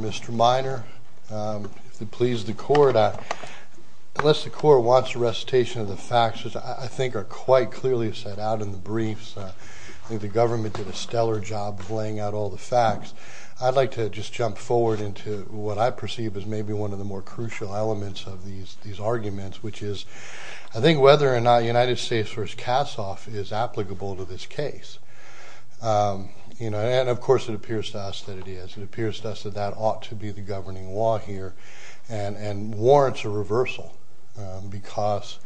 Mr. Miner, if it pleases the Court, unless the Court wants a recitation of the facts, which I think are quite clearly set out in the briefs, I think the government did a stellar job of laying out all the facts, I'd like to just jump forward into what I perceive as maybe one of the more crucial elements of these arguments, which is, I think whether or not United States v. Kassoff is applicable to this case, and of course it appears to us that it is, it appears to us that that ought to be the governing law here and warrants a reversal, because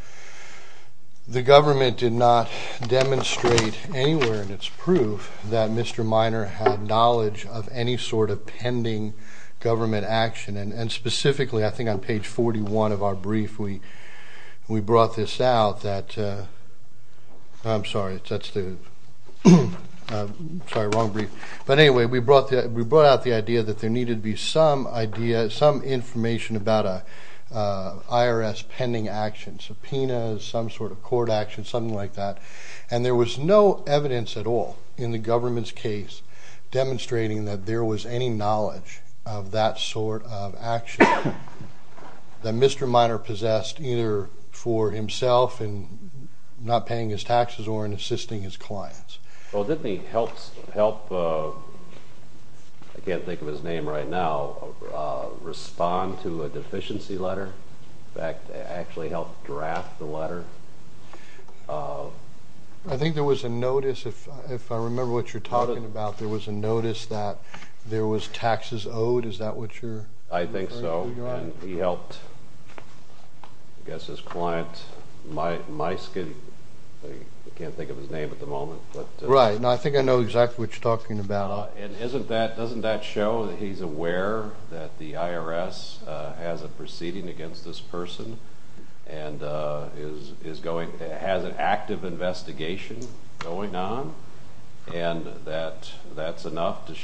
the government did not demonstrate anywhere in its proof that Mr. Miner had knowledge of any sort of pending government action, and specifically I think on page 41 of our brief, we brought this out that, I'm sorry, that's the, sorry wrong brief, but anyway, we brought out the idea that there needed to be some idea, some information about an IRS pending action, subpoenas, some sort of court action, something like that, and there was no evidence at all in the government's case demonstrating that there was any knowledge of that sort of action that Mr. Miner possessed either for himself in not paying his taxes or in assisting his clients. Well, didn't he help, I can't think of his name right now, respond to a deficiency letter? In fact, actually help draft the letter? I think there was a notice, if I remember what you're talking about, there was a notice that there was taxes owed, is that what you're referring to? I think so, and he helped, I guess his client, Myskin, I can't think of his name at the moment, but... Right, no, I think I know exactly what you're talking about. And isn't that, doesn't that show that he's aware that the IRS has a proceeding against this person and is going, has an active investigation going on, and that that's enough to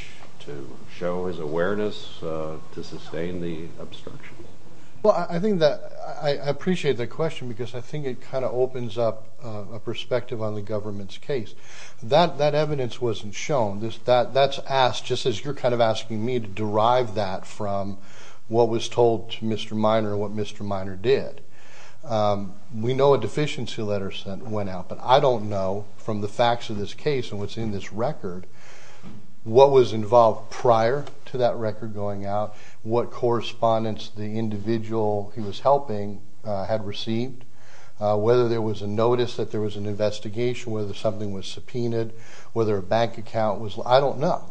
show his awareness to sustain the obstruction? Well, I think that, I appreciate the question because I think it kind of opens up a perspective on the government's case. That evidence wasn't shown, that's asked, just as you're kind of asking me to derive that from what was told to Mr. Miner, what Mr. Miner did. We know a deficiency letter went out, but I don't know from the facts of this case and what's in this record, what was involved prior to that record going out, what correspondence the individual he was helping had received, whether there was a notice that there was an investigation, whether something was subpoenaed, whether a bank account was, I don't know.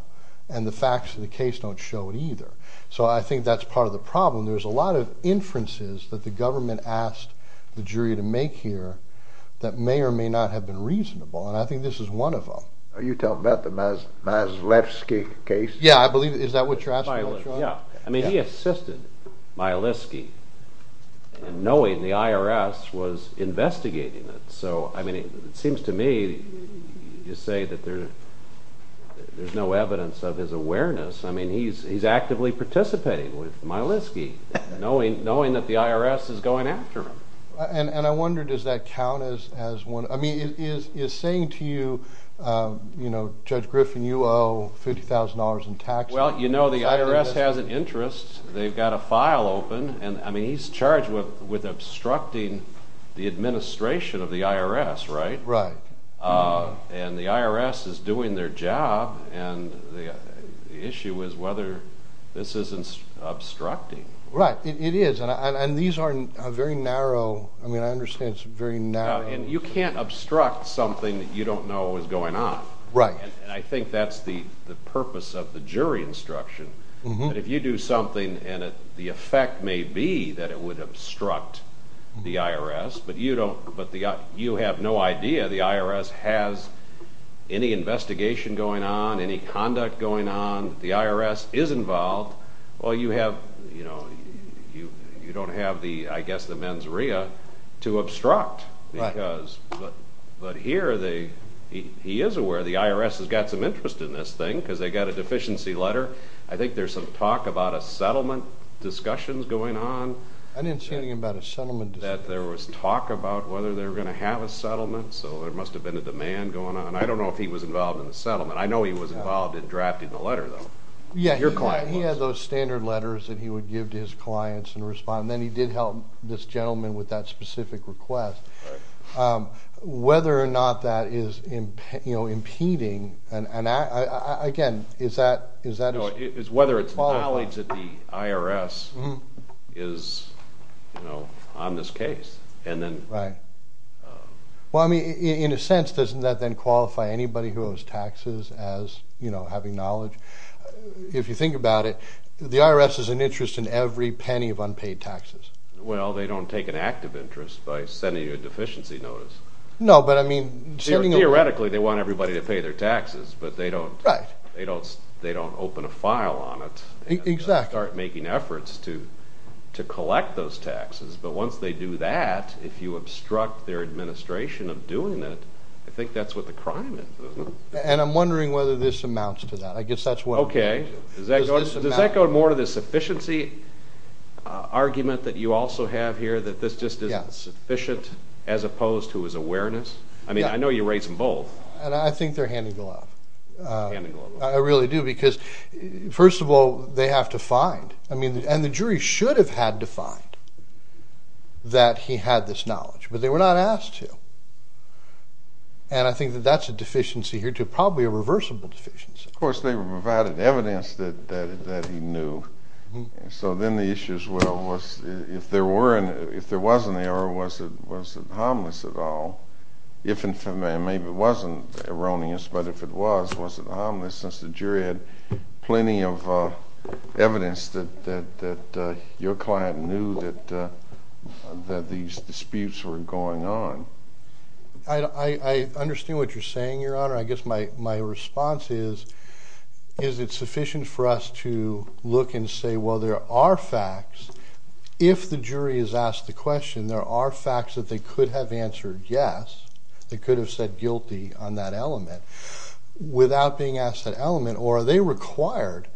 And the facts of the case don't show it either. So I think that's part of the problem, there's a lot of inferences that the government asked the jury to make here that may or may not have been reasonable, and I think this is one of them. Are you talking about the Maslewski case? Yeah, I believe, is that what you're asking? Yeah, I mean he assisted Maslewski in knowing the IRS was investigating it. So I mean, it seems to me you say that there's no evidence of his awareness, I mean he's actively participating with Maslewski, knowing that the IRS is going after him. And I wonder, does that count as one, I mean is saying to you, you know, Judge Griffin you owe $50,000 in tax money? Well, you know the IRS has an interest, they've got a file open, and I mean he's charged with obstructing the administration of the IRS, right? And the IRS is doing their job, and the issue is whether this isn't obstructing. Right, it is, and these are very narrow, I mean I understand it's very narrow. And you can't obstruct something that you don't know is going on. And I think that's the purpose of the jury instruction, that if you do something and the effect may be that it would obstruct the IRS, but you have no idea the IRS has any investigation going on, any conduct going on, the IRS is involved, well you have, you don't have the, I guess the mens rea to obstruct. But here, he is aware the IRS has got some interest in this thing, because they got a lot of discussions going on. I didn't see anything about a settlement. That there was talk about whether they were going to have a settlement, so there must have been a demand going on. I don't know if he was involved in the settlement, I know he was involved in drafting the letter though. Yeah, he had those standard letters that he would give to his clients and respond, and then he did help this gentleman with that specific request. Whether or not that is, you know, impeding, and again, is that, is that his fault? Whether it's knowledge that the IRS is, you know, on this case, and then... Well, I mean, in a sense, doesn't that then qualify anybody who owes taxes as, you know, having knowledge? If you think about it, the IRS is an interest in every penny of unpaid taxes. Well, they don't take an active interest by sending you a deficiency notice. No, but I mean... Theoretically, they want everybody to pay their taxes, but they don't, they don't open a file on it and start making efforts to collect those taxes, but once they do that, if you obstruct their administration of doing it, I think that's what the crime is, isn't it? And I'm wondering whether this amounts to that. I guess that's what... Okay, does that go more to the sufficiency argument that you also have here, that this just isn't sufficient, as opposed to his awareness? I mean, I know you raised them both. And I think they're hand in glove. Hand in glove. I really do, because first of all, they have to find, I mean, and the jury should have had to find that he had this knowledge, but they were not asked to. And I think that that's a deficiency here, too, probably a reversible deficiency. Of course, they provided evidence that he knew. So then the issue as well was, if there were, if there was an error, was it harmless at least it was, was it harmless, since the jury had plenty of evidence that your client knew that these disputes were going on? I understand what you're saying, Your Honor. I guess my response is, is it sufficient for us to look and say, well, there are facts, if the jury is asked the question, there are facts that they could have answered yes, they without being asked that element, or are they required,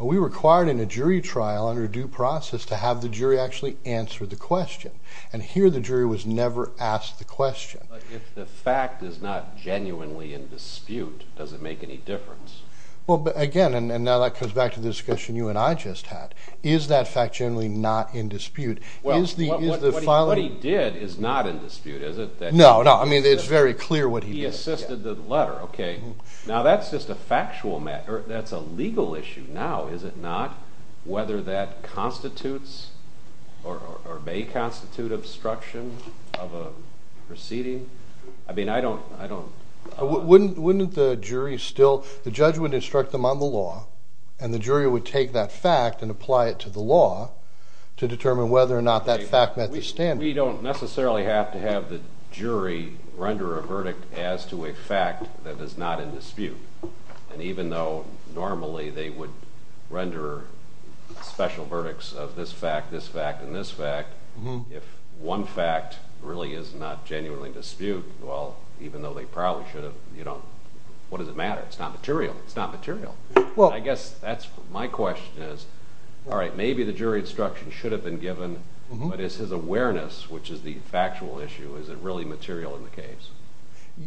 are we required in a jury trial under due process to have the jury actually answer the question? And here the jury was never asked the question. But if the fact is not genuinely in dispute, does it make any difference? Well, again, and now that comes back to the discussion you and I just had. Is that fact generally not in dispute? Is the filing... Well, what he did is not in dispute, is it? No, no. I mean, it's very clear what he did. He assisted the letter, okay. Now that's just a factual matter, that's a legal issue now, is it not? Whether that constitutes or may constitute obstruction of a proceeding? I mean, I don't... Wouldn't the jury still... The judge would instruct them on the law, and the jury would take that fact and apply it to the law to determine whether or not that fact met the standard. We don't necessarily have to have the jury render a verdict as to a fact that is not in dispute. And even though normally they would render special verdicts of this fact, this fact, and this fact, if one fact really is not genuinely in dispute, well, even though they probably should have, what does it matter? It's not material. It's not material. Well... I guess that's my question is, all right, maybe the jury instruction should have been given, but is his awareness, which is the factual issue, is it really material in the case?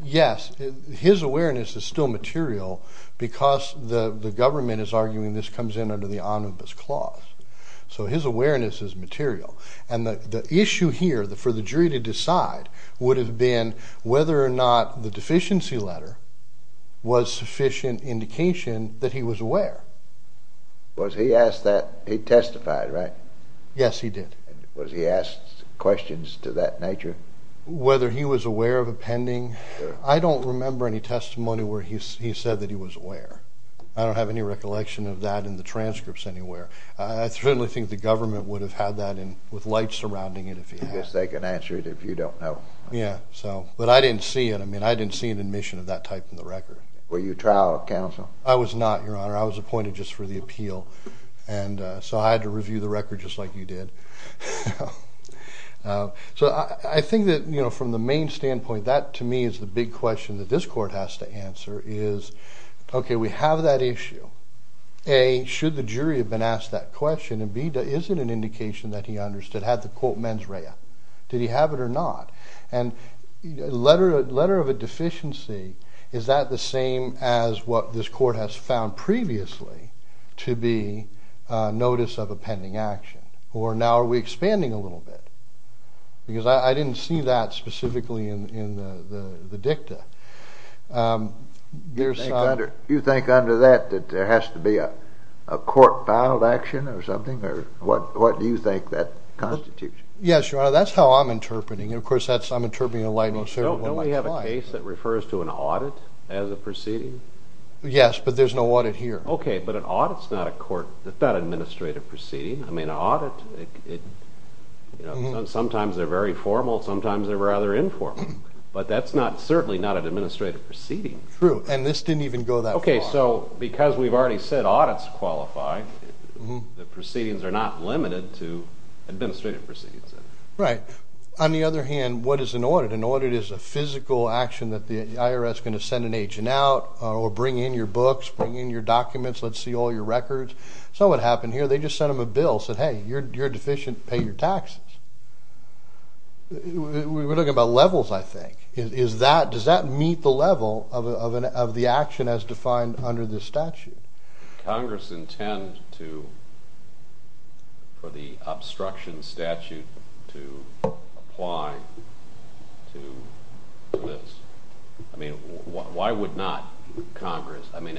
Yes. His awareness is still material because the government is arguing this comes in under the omnibus clause. So his awareness is material. And the issue here for the jury to decide would have been whether or not the deficiency letter was sufficient indication that he was aware. Was he asked that... He testified, right? Yes, he did. And was he asked questions to that nature? Whether he was aware of a pending... I don't remember any testimony where he said that he was aware. I don't have any recollection of that in the transcripts anywhere. I certainly think the government would have had that with light surrounding it if he had. I guess they can answer it if you don't know. Yeah. So... But I didn't see it. I mean, I didn't see an admission of that type in the record. Were you a trial counsel? I was not, Your Honor. I was appointed just for the appeal. And so I had to review the record just like you did. So I think that, you know, from the main standpoint, that to me is the big question that this court has to answer is, okay, we have that issue. A, should the jury have been asked that question? And B, is it an indication that he understood, had the quote mens rea? Did he have it or not? And letter of a deficiency, is that the same as what this court has found previously to be a notice of a pending action? Or now are we expanding a little bit? Because I didn't see that specifically in the dicta. You think under that that there has to be a court-filed action or something? What do you think that constitutes? Yes, Your Honor. That's how I'm interpreting it. Of course, I'm interpreting it in a light most suitable for my client. Don't we have a case that refers to an audit as a proceeding? Yes, but there's no audit here. Okay. But an audit is not an administrative proceeding. Sometimes they're very formal, sometimes they're rather informal. But that's certainly not an administrative proceeding. True. And this didn't even go that far. Okay, so because we've already said audits qualify, the proceedings are not limited to administrative proceedings. Right. On the other hand, what is an audit? An audit is a physical action that the IRS is going to send an agent out or bring in your books, bring in your documents, let's see all your records. So what happened here, they just sent them a bill, said, hey, you're deficient, pay your taxes. We're talking about levels, I think. Is that, does that meet the level of the action as defined under this statute? Congress intend to, for the obstruction statute to apply to this? I mean, why would not Congress? I mean,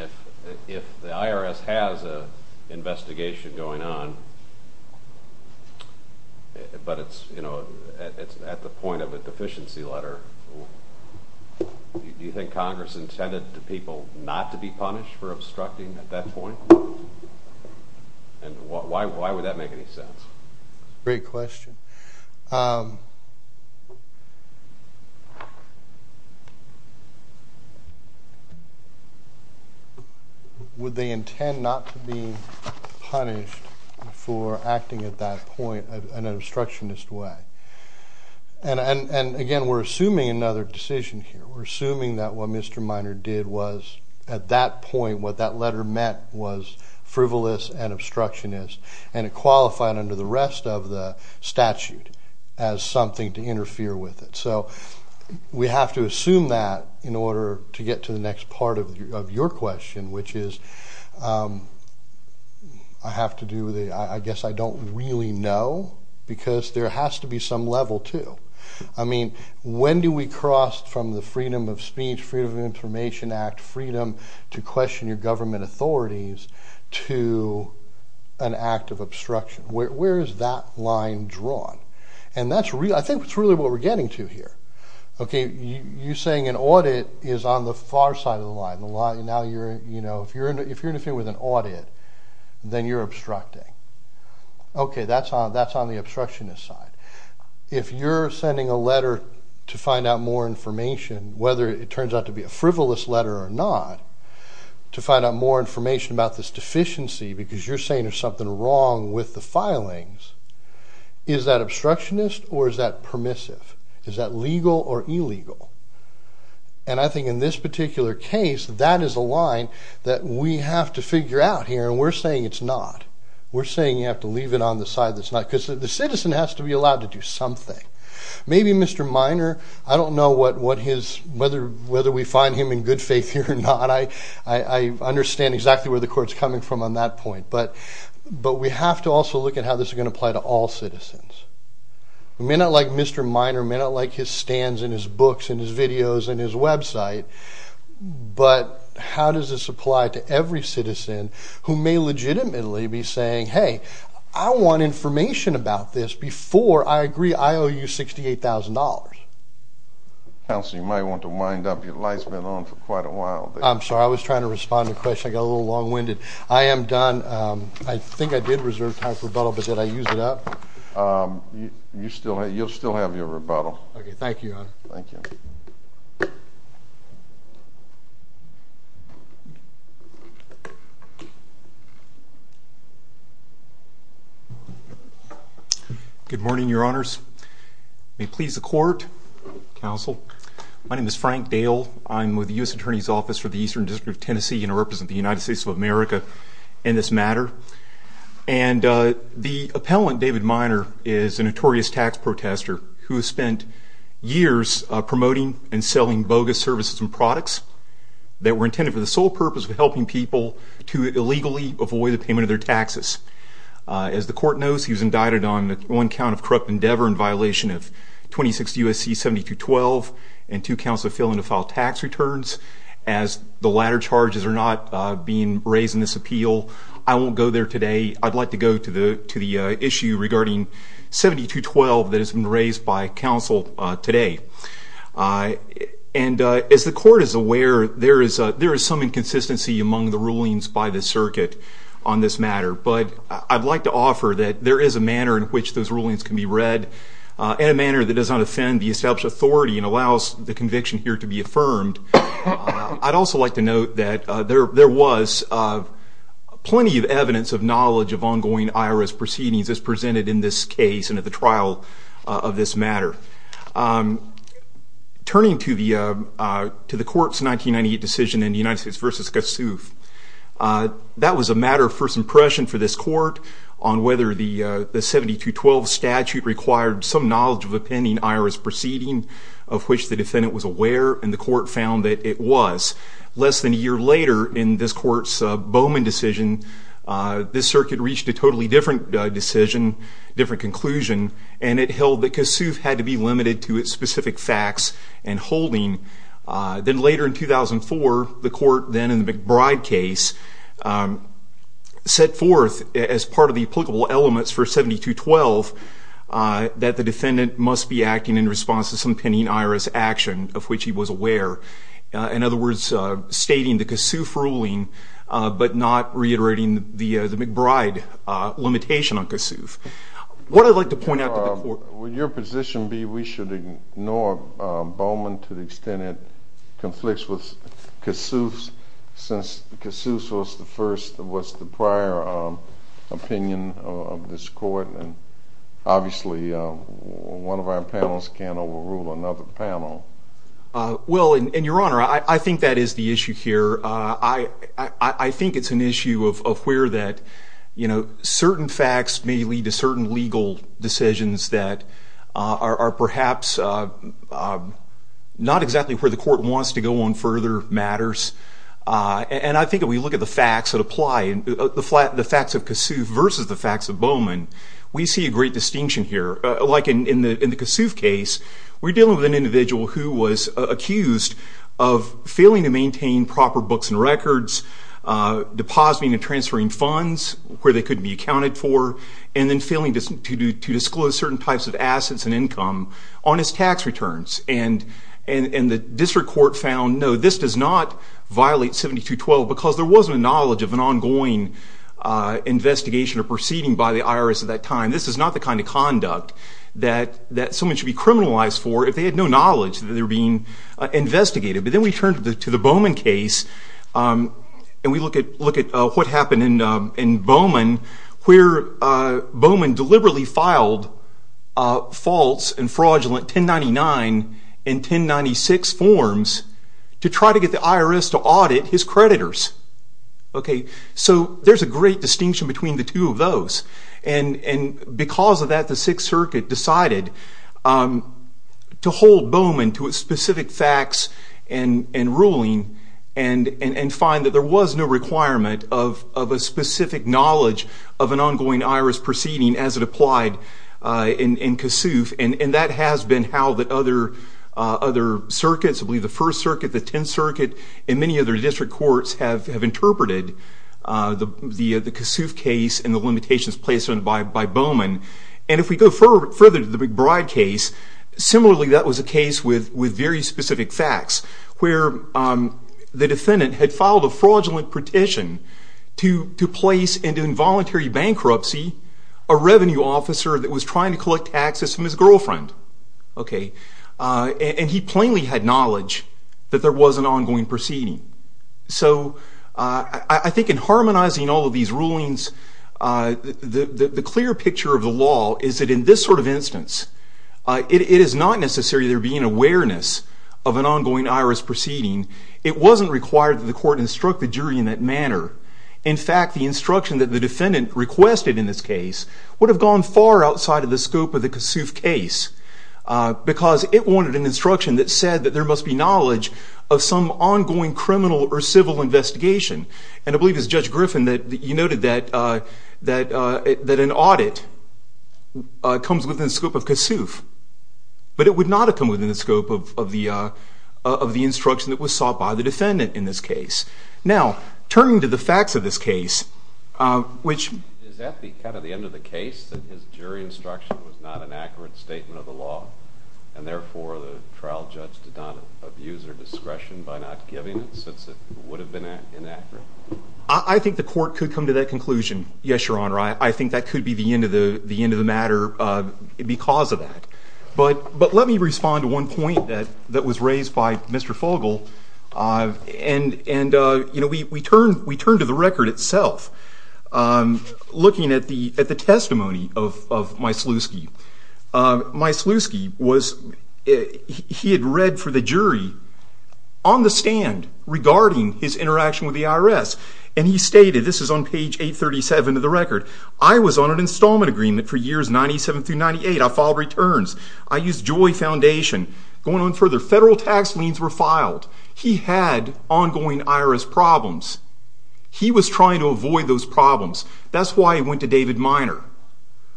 if the IRS has an investigation going on, but it's, you know, it's at the point of a deficiency letter, do you think Congress intended the people not to be punished for obstructing at that point? And why would that make any sense? Great question. Would they intend not to be punished for acting at that point in an obstructionist way? And again, we're assuming another decision here. We're assuming that what Mr. Minor did was, at that point, what that letter meant was going to qualify it under the rest of the statute as something to interfere with it. So we have to assume that in order to get to the next part of your question, which is, I have to do the, I guess I don't really know, because there has to be some level to. I mean, when do we cross from the Freedom of Speech, Freedom of Information Act, freedom to question your government authorities, to an act of obstruction? Where is that line drawn? And that's really, I think that's really what we're getting to here. Okay, you're saying an audit is on the far side of the line, and now you're, you know, if you're interfering with an audit, then you're obstructing. Okay, that's on the obstructionist side. If you're sending a letter to find out more information, whether it turns out to be a to find out more information about this deficiency, because you're saying there's something wrong with the filings, is that obstructionist or is that permissive? Is that legal or illegal? And I think in this particular case, that is a line that we have to figure out here, and we're saying it's not. We're saying you have to leave it on the side that's not, because the citizen has to be allowed to do something. Maybe Mr. Minor, I don't know what his, whether we find him in good faith here or not. I understand exactly where the court's coming from on that point, but we have to also look at how this is going to apply to all citizens. We may not like Mr. Minor, may not like his stands and his books and his videos and his website, but how does this apply to every citizen who may legitimately be saying, hey, I want information about this before I agree I owe you $68,000. Counsel, you might want to wind up. Your light's been on for quite a while. I'm sorry, I was trying to respond to a question. I got a little long-winded. I am done. I think I did reserve time for rebuttal, but did I use it up? You'll still have your rebuttal. Okay, thank you, Your Honor. Thank you. Good morning, Your Honors. May it please the court, counsel. My name is Frank Dale. I'm with the U.S. Attorney's Office for the Eastern District of Tennessee and I represent the United States of America in this matter. And the appellant, David Minor, is a notorious tax protester who has spent years promoting and selling bogus services and products that were intended for the sole purpose of helping people to illegally avoid the payment of their taxes. As the court knows, he was indicted on one count of corrupt endeavor in violation of 26 U.S.C. 70-12 and two counts of failing to file tax returns. As the latter charges are not being raised in this appeal, I won't go there today. I'd like to go to the issue regarding 70-12 that has been raised by counsel today. And as the court is aware, there is some inconsistency among the rulings by the circuit on this matter, but I'd like to offer that there is a manner in which those rulings can be read in a manner that does not offend the established authority and allows the conviction here to be affirmed. I'd also like to note that there was plenty of evidence of knowledge of ongoing IRS proceedings as presented in this case and at the trial of this matter. Turning to the court's 1998 decision in the United States v. Gossuth, that was a matter of first impression for this court on whether the 70-12 statute required some knowledge of the pending IRS proceeding of which the defendant was aware, and the court found that it was. Less than a year later in this court's Bowman decision, this circuit reached a totally different decision, different conclusion, and it held that Gossuth had to be limited to its specific facts and holding. Then later in 2004, the court then in the McBride case set forth as part of the applicable elements for 72-12 that the defendant must be acting in response to some pending IRS action of which he was aware. In other words, stating the Gossuth ruling but not reiterating the McBride limitation on Gossuth. What I'd like to point out to the court. Would your position be we should ignore Bowman to the extent it conflicts with Gossuth's since Gossuth was the prior opinion of this court? Obviously, one of our panels can't overrule another panel. Well, and your honor, I think that is the issue here. I think it's an issue of where that, you know, certain facts may lead to certain legal decisions that are perhaps not exactly where the court wants to go on further matters. And I think if we look at the facts that apply, the facts of Gossuth versus the facts of Bowman, we see a great distinction here. Like in the Gossuth case, we're dealing with an individual who was accused of failing to maintain proper books and records, depositing and transferring funds where they couldn't be accounted for, and then failing to disclose certain types of assets and income on his tax returns. And the district court found, no, this does not violate 7212 because there wasn't a knowledge of an ongoing investigation or proceeding by the IRS at that time. This is not the kind of conduct that someone should be criminalized for if they had no knowledge that they were being investigated. But then we turn to the Bowman case, and we look at what happened in Bowman where Bowman deliberately filed false and fraudulent 1099 and 1096 forms to try to get the IRS to audit his creditors. Okay, so there's a great distinction between the two of those. And because of that, the Sixth Circuit decided to hold Bowman to its specific facts and ruling and find that there was no requirement of a specific knowledge of an ongoing IRS proceeding as it applied in Gossuth. And that has been how the other circuits, I believe the First Circuit, the Tenth Circuit, and many other district courts have interpreted the Gossuth case and the limitations placed on it by Bowman. And if we go further to the McBride case, similarly that was a case with very specific facts where the defendant had filed a fraudulent petition to place into involuntary bankruptcy a revenue officer that was trying to collect taxes from his girlfriend. Okay, and he plainly had knowledge that there was an ongoing proceeding. So I think in harmonizing all of these rulings, the clear picture of the law is that in this sort of instance, it is not necessary there being awareness of an ongoing IRS proceeding. It wasn't required that the court instruct the jury in that manner. In fact, the instruction that the defendant requested in this case would have gone far outside of the scope of the Gossuth case because it wanted an instruction that said that there must be knowledge of some ongoing criminal or civil investigation. And I believe it was Judge Griffin that you noted that an audit comes within the scope of Gossuth, but it would not have come within the scope of the instruction that was sought by the defendant in this case. Now, turning to the facts of this case, which... Is that the end of the case, that his jury instruction was not an accurate statement of the law, and therefore the trial judge did not abuse her discretion by not giving it since it would have been inaccurate? I think the court could come to that conclusion. Yes, Your Honor, I think that could be the end of the matter because of that. But let me respond to one point that was raised by Mr. Fogle. And, you know, we turn to the record itself, looking at the testimony of Myslowski. Myslowski was... He had read for the jury on the stand regarding his interaction with the IRS. And he stated, this is on page 837 of the record, I was on an installment agreement for years 97 through 98. I filed returns. I used Joy Foundation. Going on further, federal tax liens were filed. He had ongoing IRS problems. He was trying to avoid those problems. That's why he went to David Minor.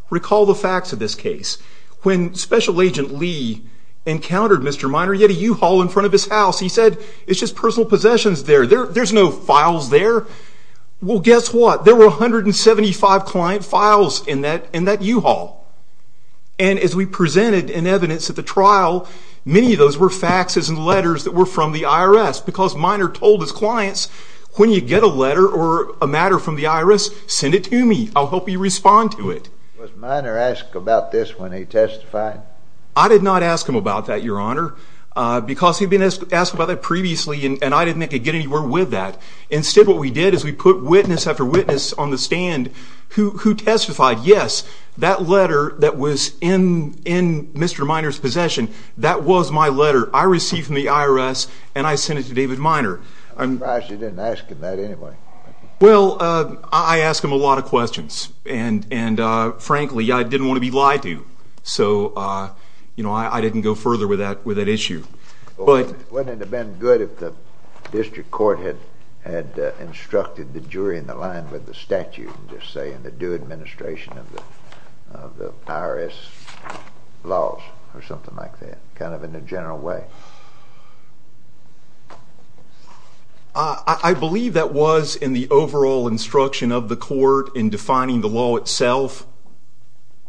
Recall the facts of this case. When Special Agent Lee encountered Mr. Minor, he had a U-Haul in front of his house. He said, it's just personal possessions there. There's no files there. Well, guess what? There were 175 client files in that U-Haul. And as we presented in evidence at the trial, many of those were faxes and letters that were from the IRS because Minor told his clients, when you get a letter or a matter from the IRS, send it to me. I'll help you respond to it. Was Minor asked about this when he testified? I did not ask him about that, Your Honor, because he'd been asked about that previously, and I didn't think he'd get anywhere with that. Instead, what we did is we put witness after witness on the stand who testified, yes, that letter that was in Mr. Minor's possession, that was my letter. I received from the IRS, and I sent it to David Minor. I'm surprised you didn't ask him that anyway. Well, I asked him a lot of questions, and frankly, I didn't want to be lied to. So, you know, I didn't go further with that issue. Well, wouldn't it have been good if the district court had instructed the jury in the line with the statute and just say in the due administration of the IRS laws or something like that, kind of in a general way? I believe that was in the overall instruction of the court in defining the law itself.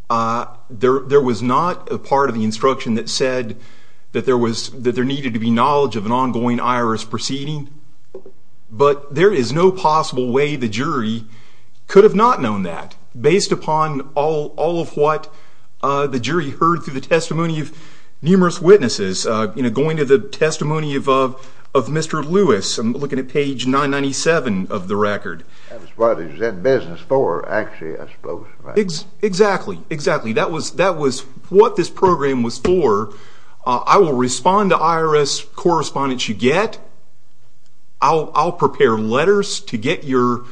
There was not a part of the instruction that said that there was, that there needed to be knowledge of an ongoing IRS proceeding, but there is no possible way the jury could have not known that based upon all of what the jury heard through the testimony of numerous witnesses. You know, going to the testimony of Mr. Lewis, I'm looking at page 997 of the record. That's what he was in business for, actually, I suppose. Exactly. Exactly. That was what this program was for. I will respond to IRS correspondence you get. I'll prepare letters to get your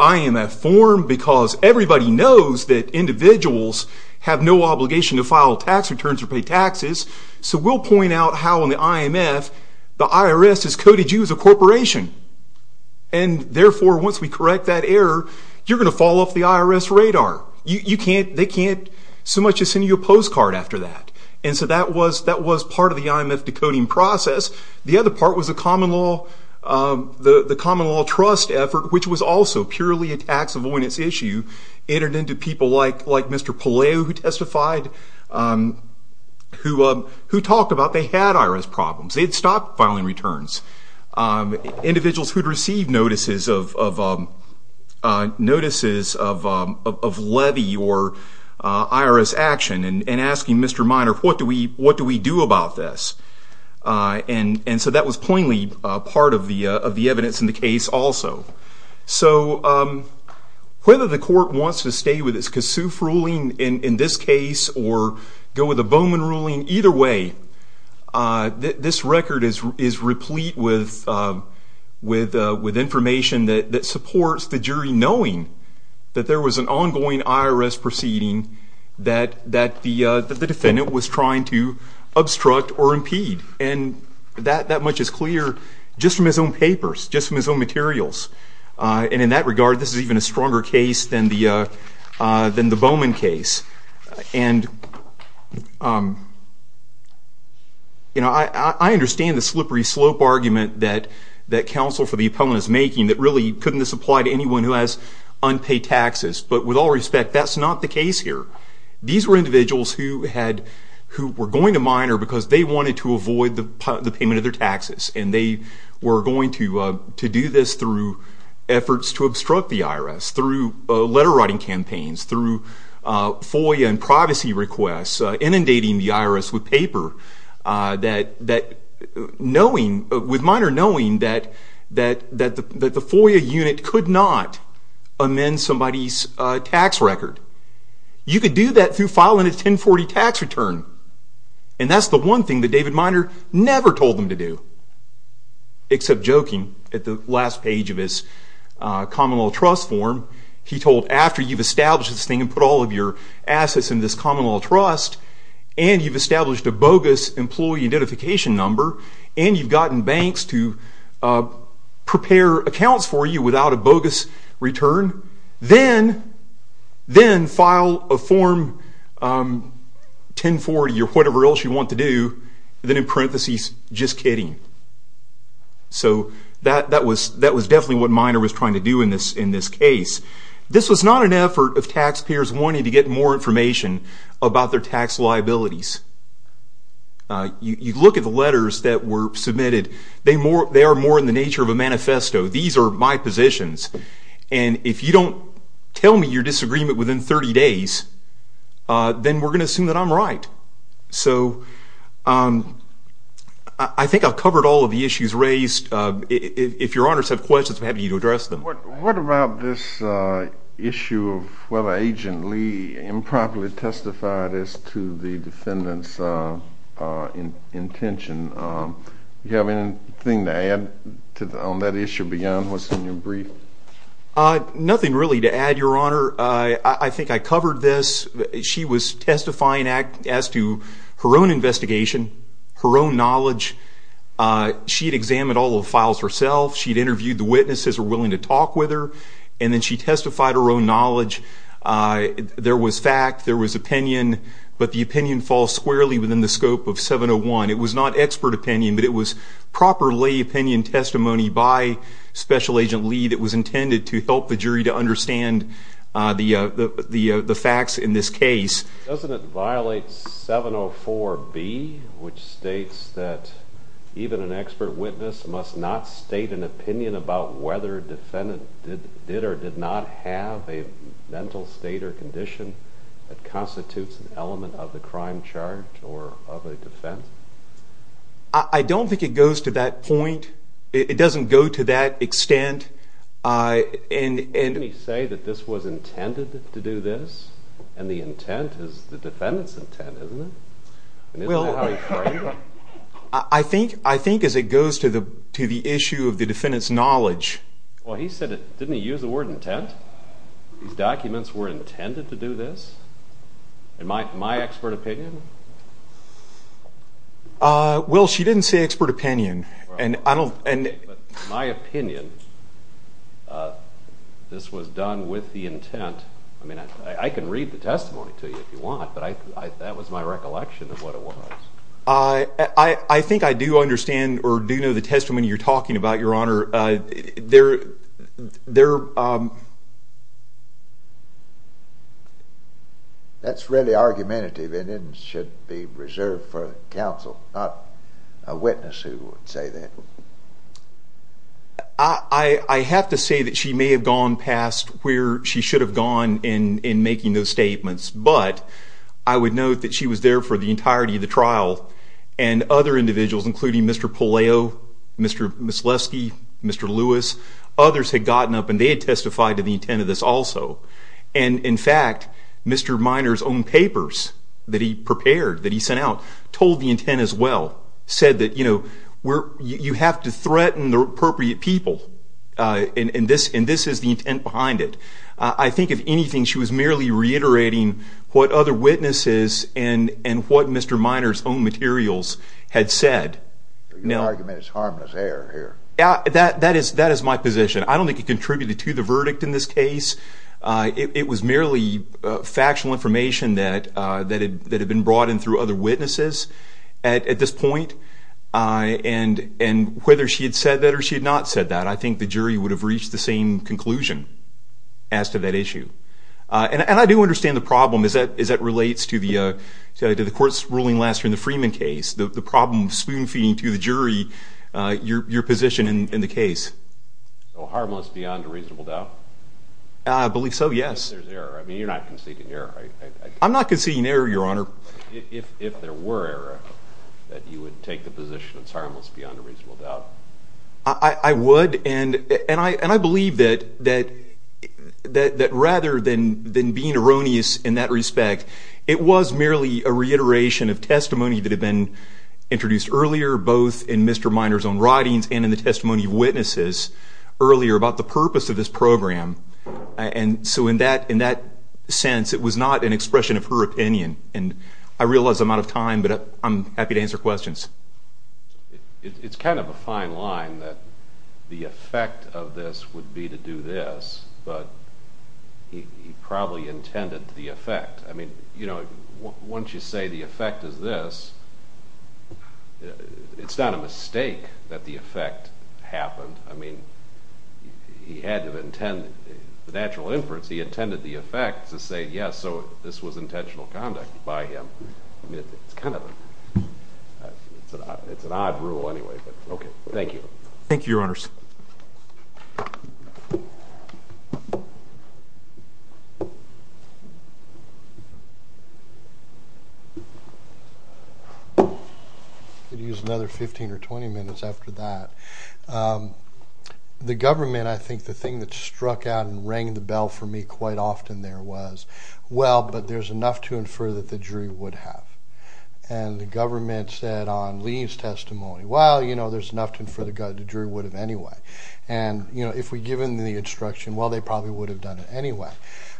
I in that form, because everybody knows that individuals have no obligation to file tax returns or pay taxes. So we'll point out how in the IMF, the IRS has coded you as a corporation. And therefore, once we correct that error, you're going to fall off the IRS radar. You can't, they can't so much as send you a postcard after that. And so that was part of the IMF decoding process. The other part was the common law trust effort, which was also purely a tax avoidance issue, entered into people like Mr. Palaio, who testified, who talked about they had IRS problems. They had stopped filing returns. Individuals who had received notices of levy or IRS action, and asking Mr. Minor, what do we do about this? And so that was plainly part of the evidence in the case also. So whether the court wants to stay with its KASOOF ruling in this case, or go with a Bowman ruling, either way, this record is replete with information that supports the jury knowing that there was an ongoing IRS proceeding that the defendant was trying to obstruct or impede. And that much is clear just from his own papers, just from his own materials. And in that regard, this is even a stronger case than the Bowman case. And, you know, I understand the slippery slope argument that counsel for the appellant is making that really couldn't this apply to anyone who has unpaid taxes. But with all respect, that's not the case here. These were individuals who had, who were going to minor because they wanted to avoid the payment of their taxes. And they were going to do this through efforts to obstruct the IRS, through letter writing campaigns, through FOIA and privacy requests, inundating the IRS with paper, that knowing, with Minor knowing that the FOIA unit could not amend somebody's tax record. You could do that through filing a 1040 tax return. And that's the one thing that David Minor never told them to do. Except joking at the last page of his common law trust form. He told, after you've established this thing and put all of your assets in this common law trust, and you've established a bogus employee identification number, and you've gotten banks to prepare accounts for you without a bogus return, then file a form 1040 or whatever else you want to do, then in parentheses, just kidding. So that was definitely what Minor was trying to do in this case. This was not an effort of taxpayers wanting to get more information about their tax liabilities. You look at the letters that were submitted, they are more in the nature of a manifesto. These are my positions. And if you don't tell me your disagreement within 30 days, then we're going to assume that I'm right. So I think I've covered all of the issues raised. If your honors have questions, I'm happy to address them. What about this issue of whether Agent Lee improperly testified as to the defendant's intention? Do you have anything to add on that issue beyond what's in your brief? Nothing really to add, your honor. I think I covered this. She was testifying as to her own investigation, her own knowledge. She'd examined all the files herself. She'd interviewed the witnesses who were willing to talk with her, and then she testified her own knowledge. There was fact, there was opinion, but the opinion falls squarely within the scope of 701. It was not expert opinion, but it was proper lay opinion testimony by Special Agent Lee that was intended to help the jury to understand the facts in this case. Doesn't it violate 704B, which states that even an expert witness must not state an opinion about whether a defendant did or did not have a mental state or condition that constitutes an element of the crime charge or of a defense? I don't think it goes to that point. It doesn't go to that extent. Didn't he say that this was intended to do this, and the intent is the defendant's intent, isn't it? Isn't that how he framed it? I think as it goes to the issue of the defendant's knowledge. Well, he said, didn't he use the word intent? These documents were intended to do this, in my expert opinion? Well, she didn't say expert opinion. In my opinion, this was done with the intent. I mean, I can read the testimony to you if you want, but that was my recollection of what it was. I think I do understand or do know the testimony you're talking about, Your Honor. That's really argumentative, and it should be reserved for counsel, not a witness who would say that. I have to say that she may have gone past where she should have gone in making those statements. But I would note that she was there for the entirety of the trial, and other individuals, including Mr. Puleo, Mr. Mislewski, Mr. Lewis, others had gotten up, and they had testified to the intent of this also. And in fact, Mr. Minor's own papers that he prepared, that he sent out, told the intent as well. Said that you have to threaten the appropriate people, and this is the intent behind it. I think if anything, she was merely reiterating what other witnesses and what Mr. Minor's own materials had said. Your argument is harmless air here. Yeah, that is my position. I don't think it contributed to the verdict in this case. It was merely factual information that had been brought in through other witnesses at this point. And whether she had said that or she had not said that, I think the jury would have reached the same conclusion as to that issue. And I do understand the problem as that relates to the court's ruling last year in the Freeman case, the problem of spoon-feeding to the jury your position in the case. Harmless beyond a reasonable doubt? I believe so, yes. There's error. I mean, you're not conceding error, right? I'm not conceding error, Your Honor. If there were error, that you would take the position it's harmless beyond a reasonable doubt? I would, and I believe that rather than being erroneous in that respect, it was merely a reiteration of testimony that had been introduced earlier, both in Mr. Minor's own writings and in the testimony of witnesses earlier about the purpose of this program. And so in that sense, it was not an expression of her opinion. And I realize I'm out of time, but I'm happy to answer questions. It's kind of a fine line that the effect of this would be to do this, but he probably intended the effect. I mean, once you say the effect is this, it's not a mistake that the effect happened. I mean, he had to intend the natural inference. He intended the effect to say, yes, so this was intentional conduct by him. It's kind of an odd rule anyway, but OK. Thank you. Thank you, Your Honors. I could use another 15 or 20 minutes after that. The government, I think the thing that struck out and rang the bell for me quite often there was, well, but there's enough to infer that the jury would have. And the government said on Lee's testimony, well, there's enough to infer the jury would have anyway. And if we'd given them the instruction, well, they probably would have done it anyway.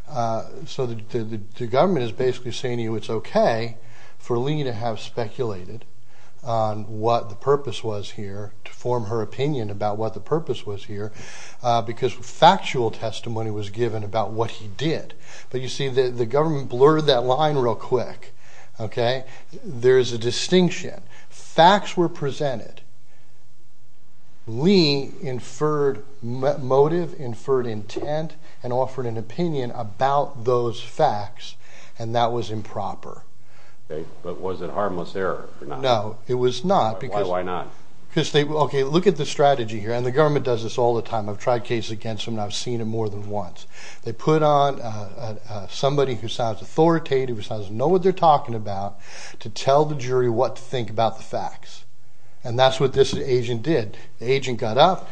So the government is basically saying to you it's OK for Lee to have speculated on what the purpose was here to form her opinion about what the purpose was here, because factual testimony was given about what he did. But you see, the government blurred that line real quick. OK, there is a distinction. Facts were presented. Lee inferred motive, inferred intent, and offered an opinion about those facts. And that was improper. But was it harmless error or not? No, it was not. Why not? Because they, OK, look at the strategy here. And the government does this all the time. I've tried cases against them, and I've seen it more than once. They put on somebody who sounds authoritative, who sounds to know what they're talking about, to tell the jury what to think about the facts. And that's what this agent did. The agent got up,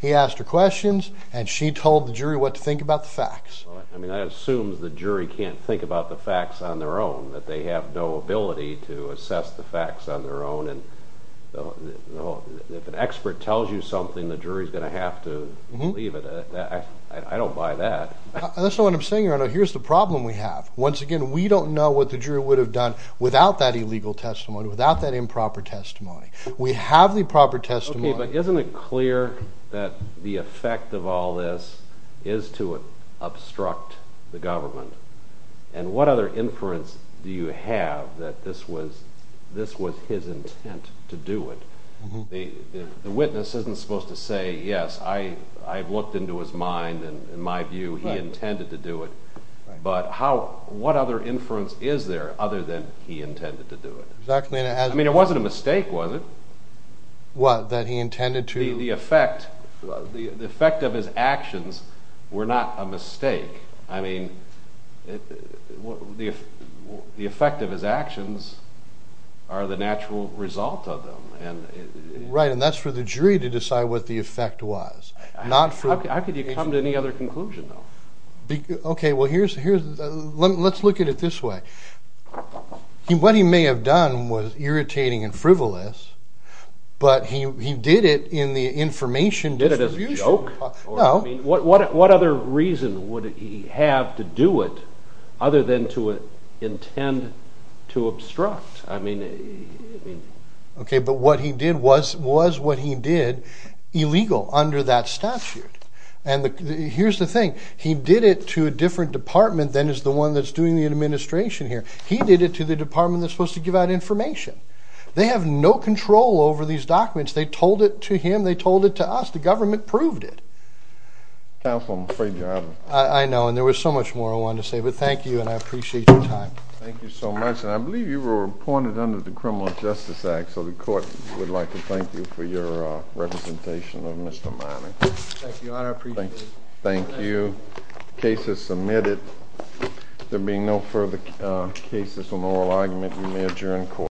he asked her questions, and she told the jury what to think about the facts. I mean, that assumes the jury can't think about the facts on their own, that they have no ability to assess the facts on their own. And if an expert tells you something, the jury's going to have to leave it. I don't buy that. That's not what I'm saying, here. Here's the problem we have. Once again, we don't know what the jury would have done without that illegal testimony, without that improper testimony. We have the proper testimony. But isn't it clear that the effect of all this is to obstruct the government? And what other inference do you have that this was his intent to do it? The witness isn't supposed to say, yes, I've looked into his mind, and in my view, he intended to do it. But what other inference is there other than he intended to do it? I mean, it wasn't a mistake, was it? What, that he intended to? The effect of his actions were not a mistake. I mean, the effect of his actions are the natural result of them. Right, and that's for the jury to decide what the effect was, not for the jury. How could you come to any other conclusion, though? OK, well, let's look at it this way. What he may have done was irritating and frivolous, but he did it in the information distribution. Did it as a joke? No. What other reason would he have to do it other than to intend to obstruct? I mean, I mean. OK, but what he did was what he did illegal under that statute. And here's the thing, he did it to a different department than is the one that's doing the administration here. He did it to the department that's supposed to give out information. They have no control over these documents. They told it to him. They told it to us. The government proved it. Counsel, I'm afraid you're out of time. I know, and there was so much more I wanted to say, but thank you, and I appreciate your time. Thank you so much, and I believe you were appointed under the Criminal Justice Act, so the court would like to thank you for your representation of Mr. Minor. Thank you, Your Honor. I appreciate it. Thank you. Case is submitted. There being no further cases on oral argument, you may adjourn court.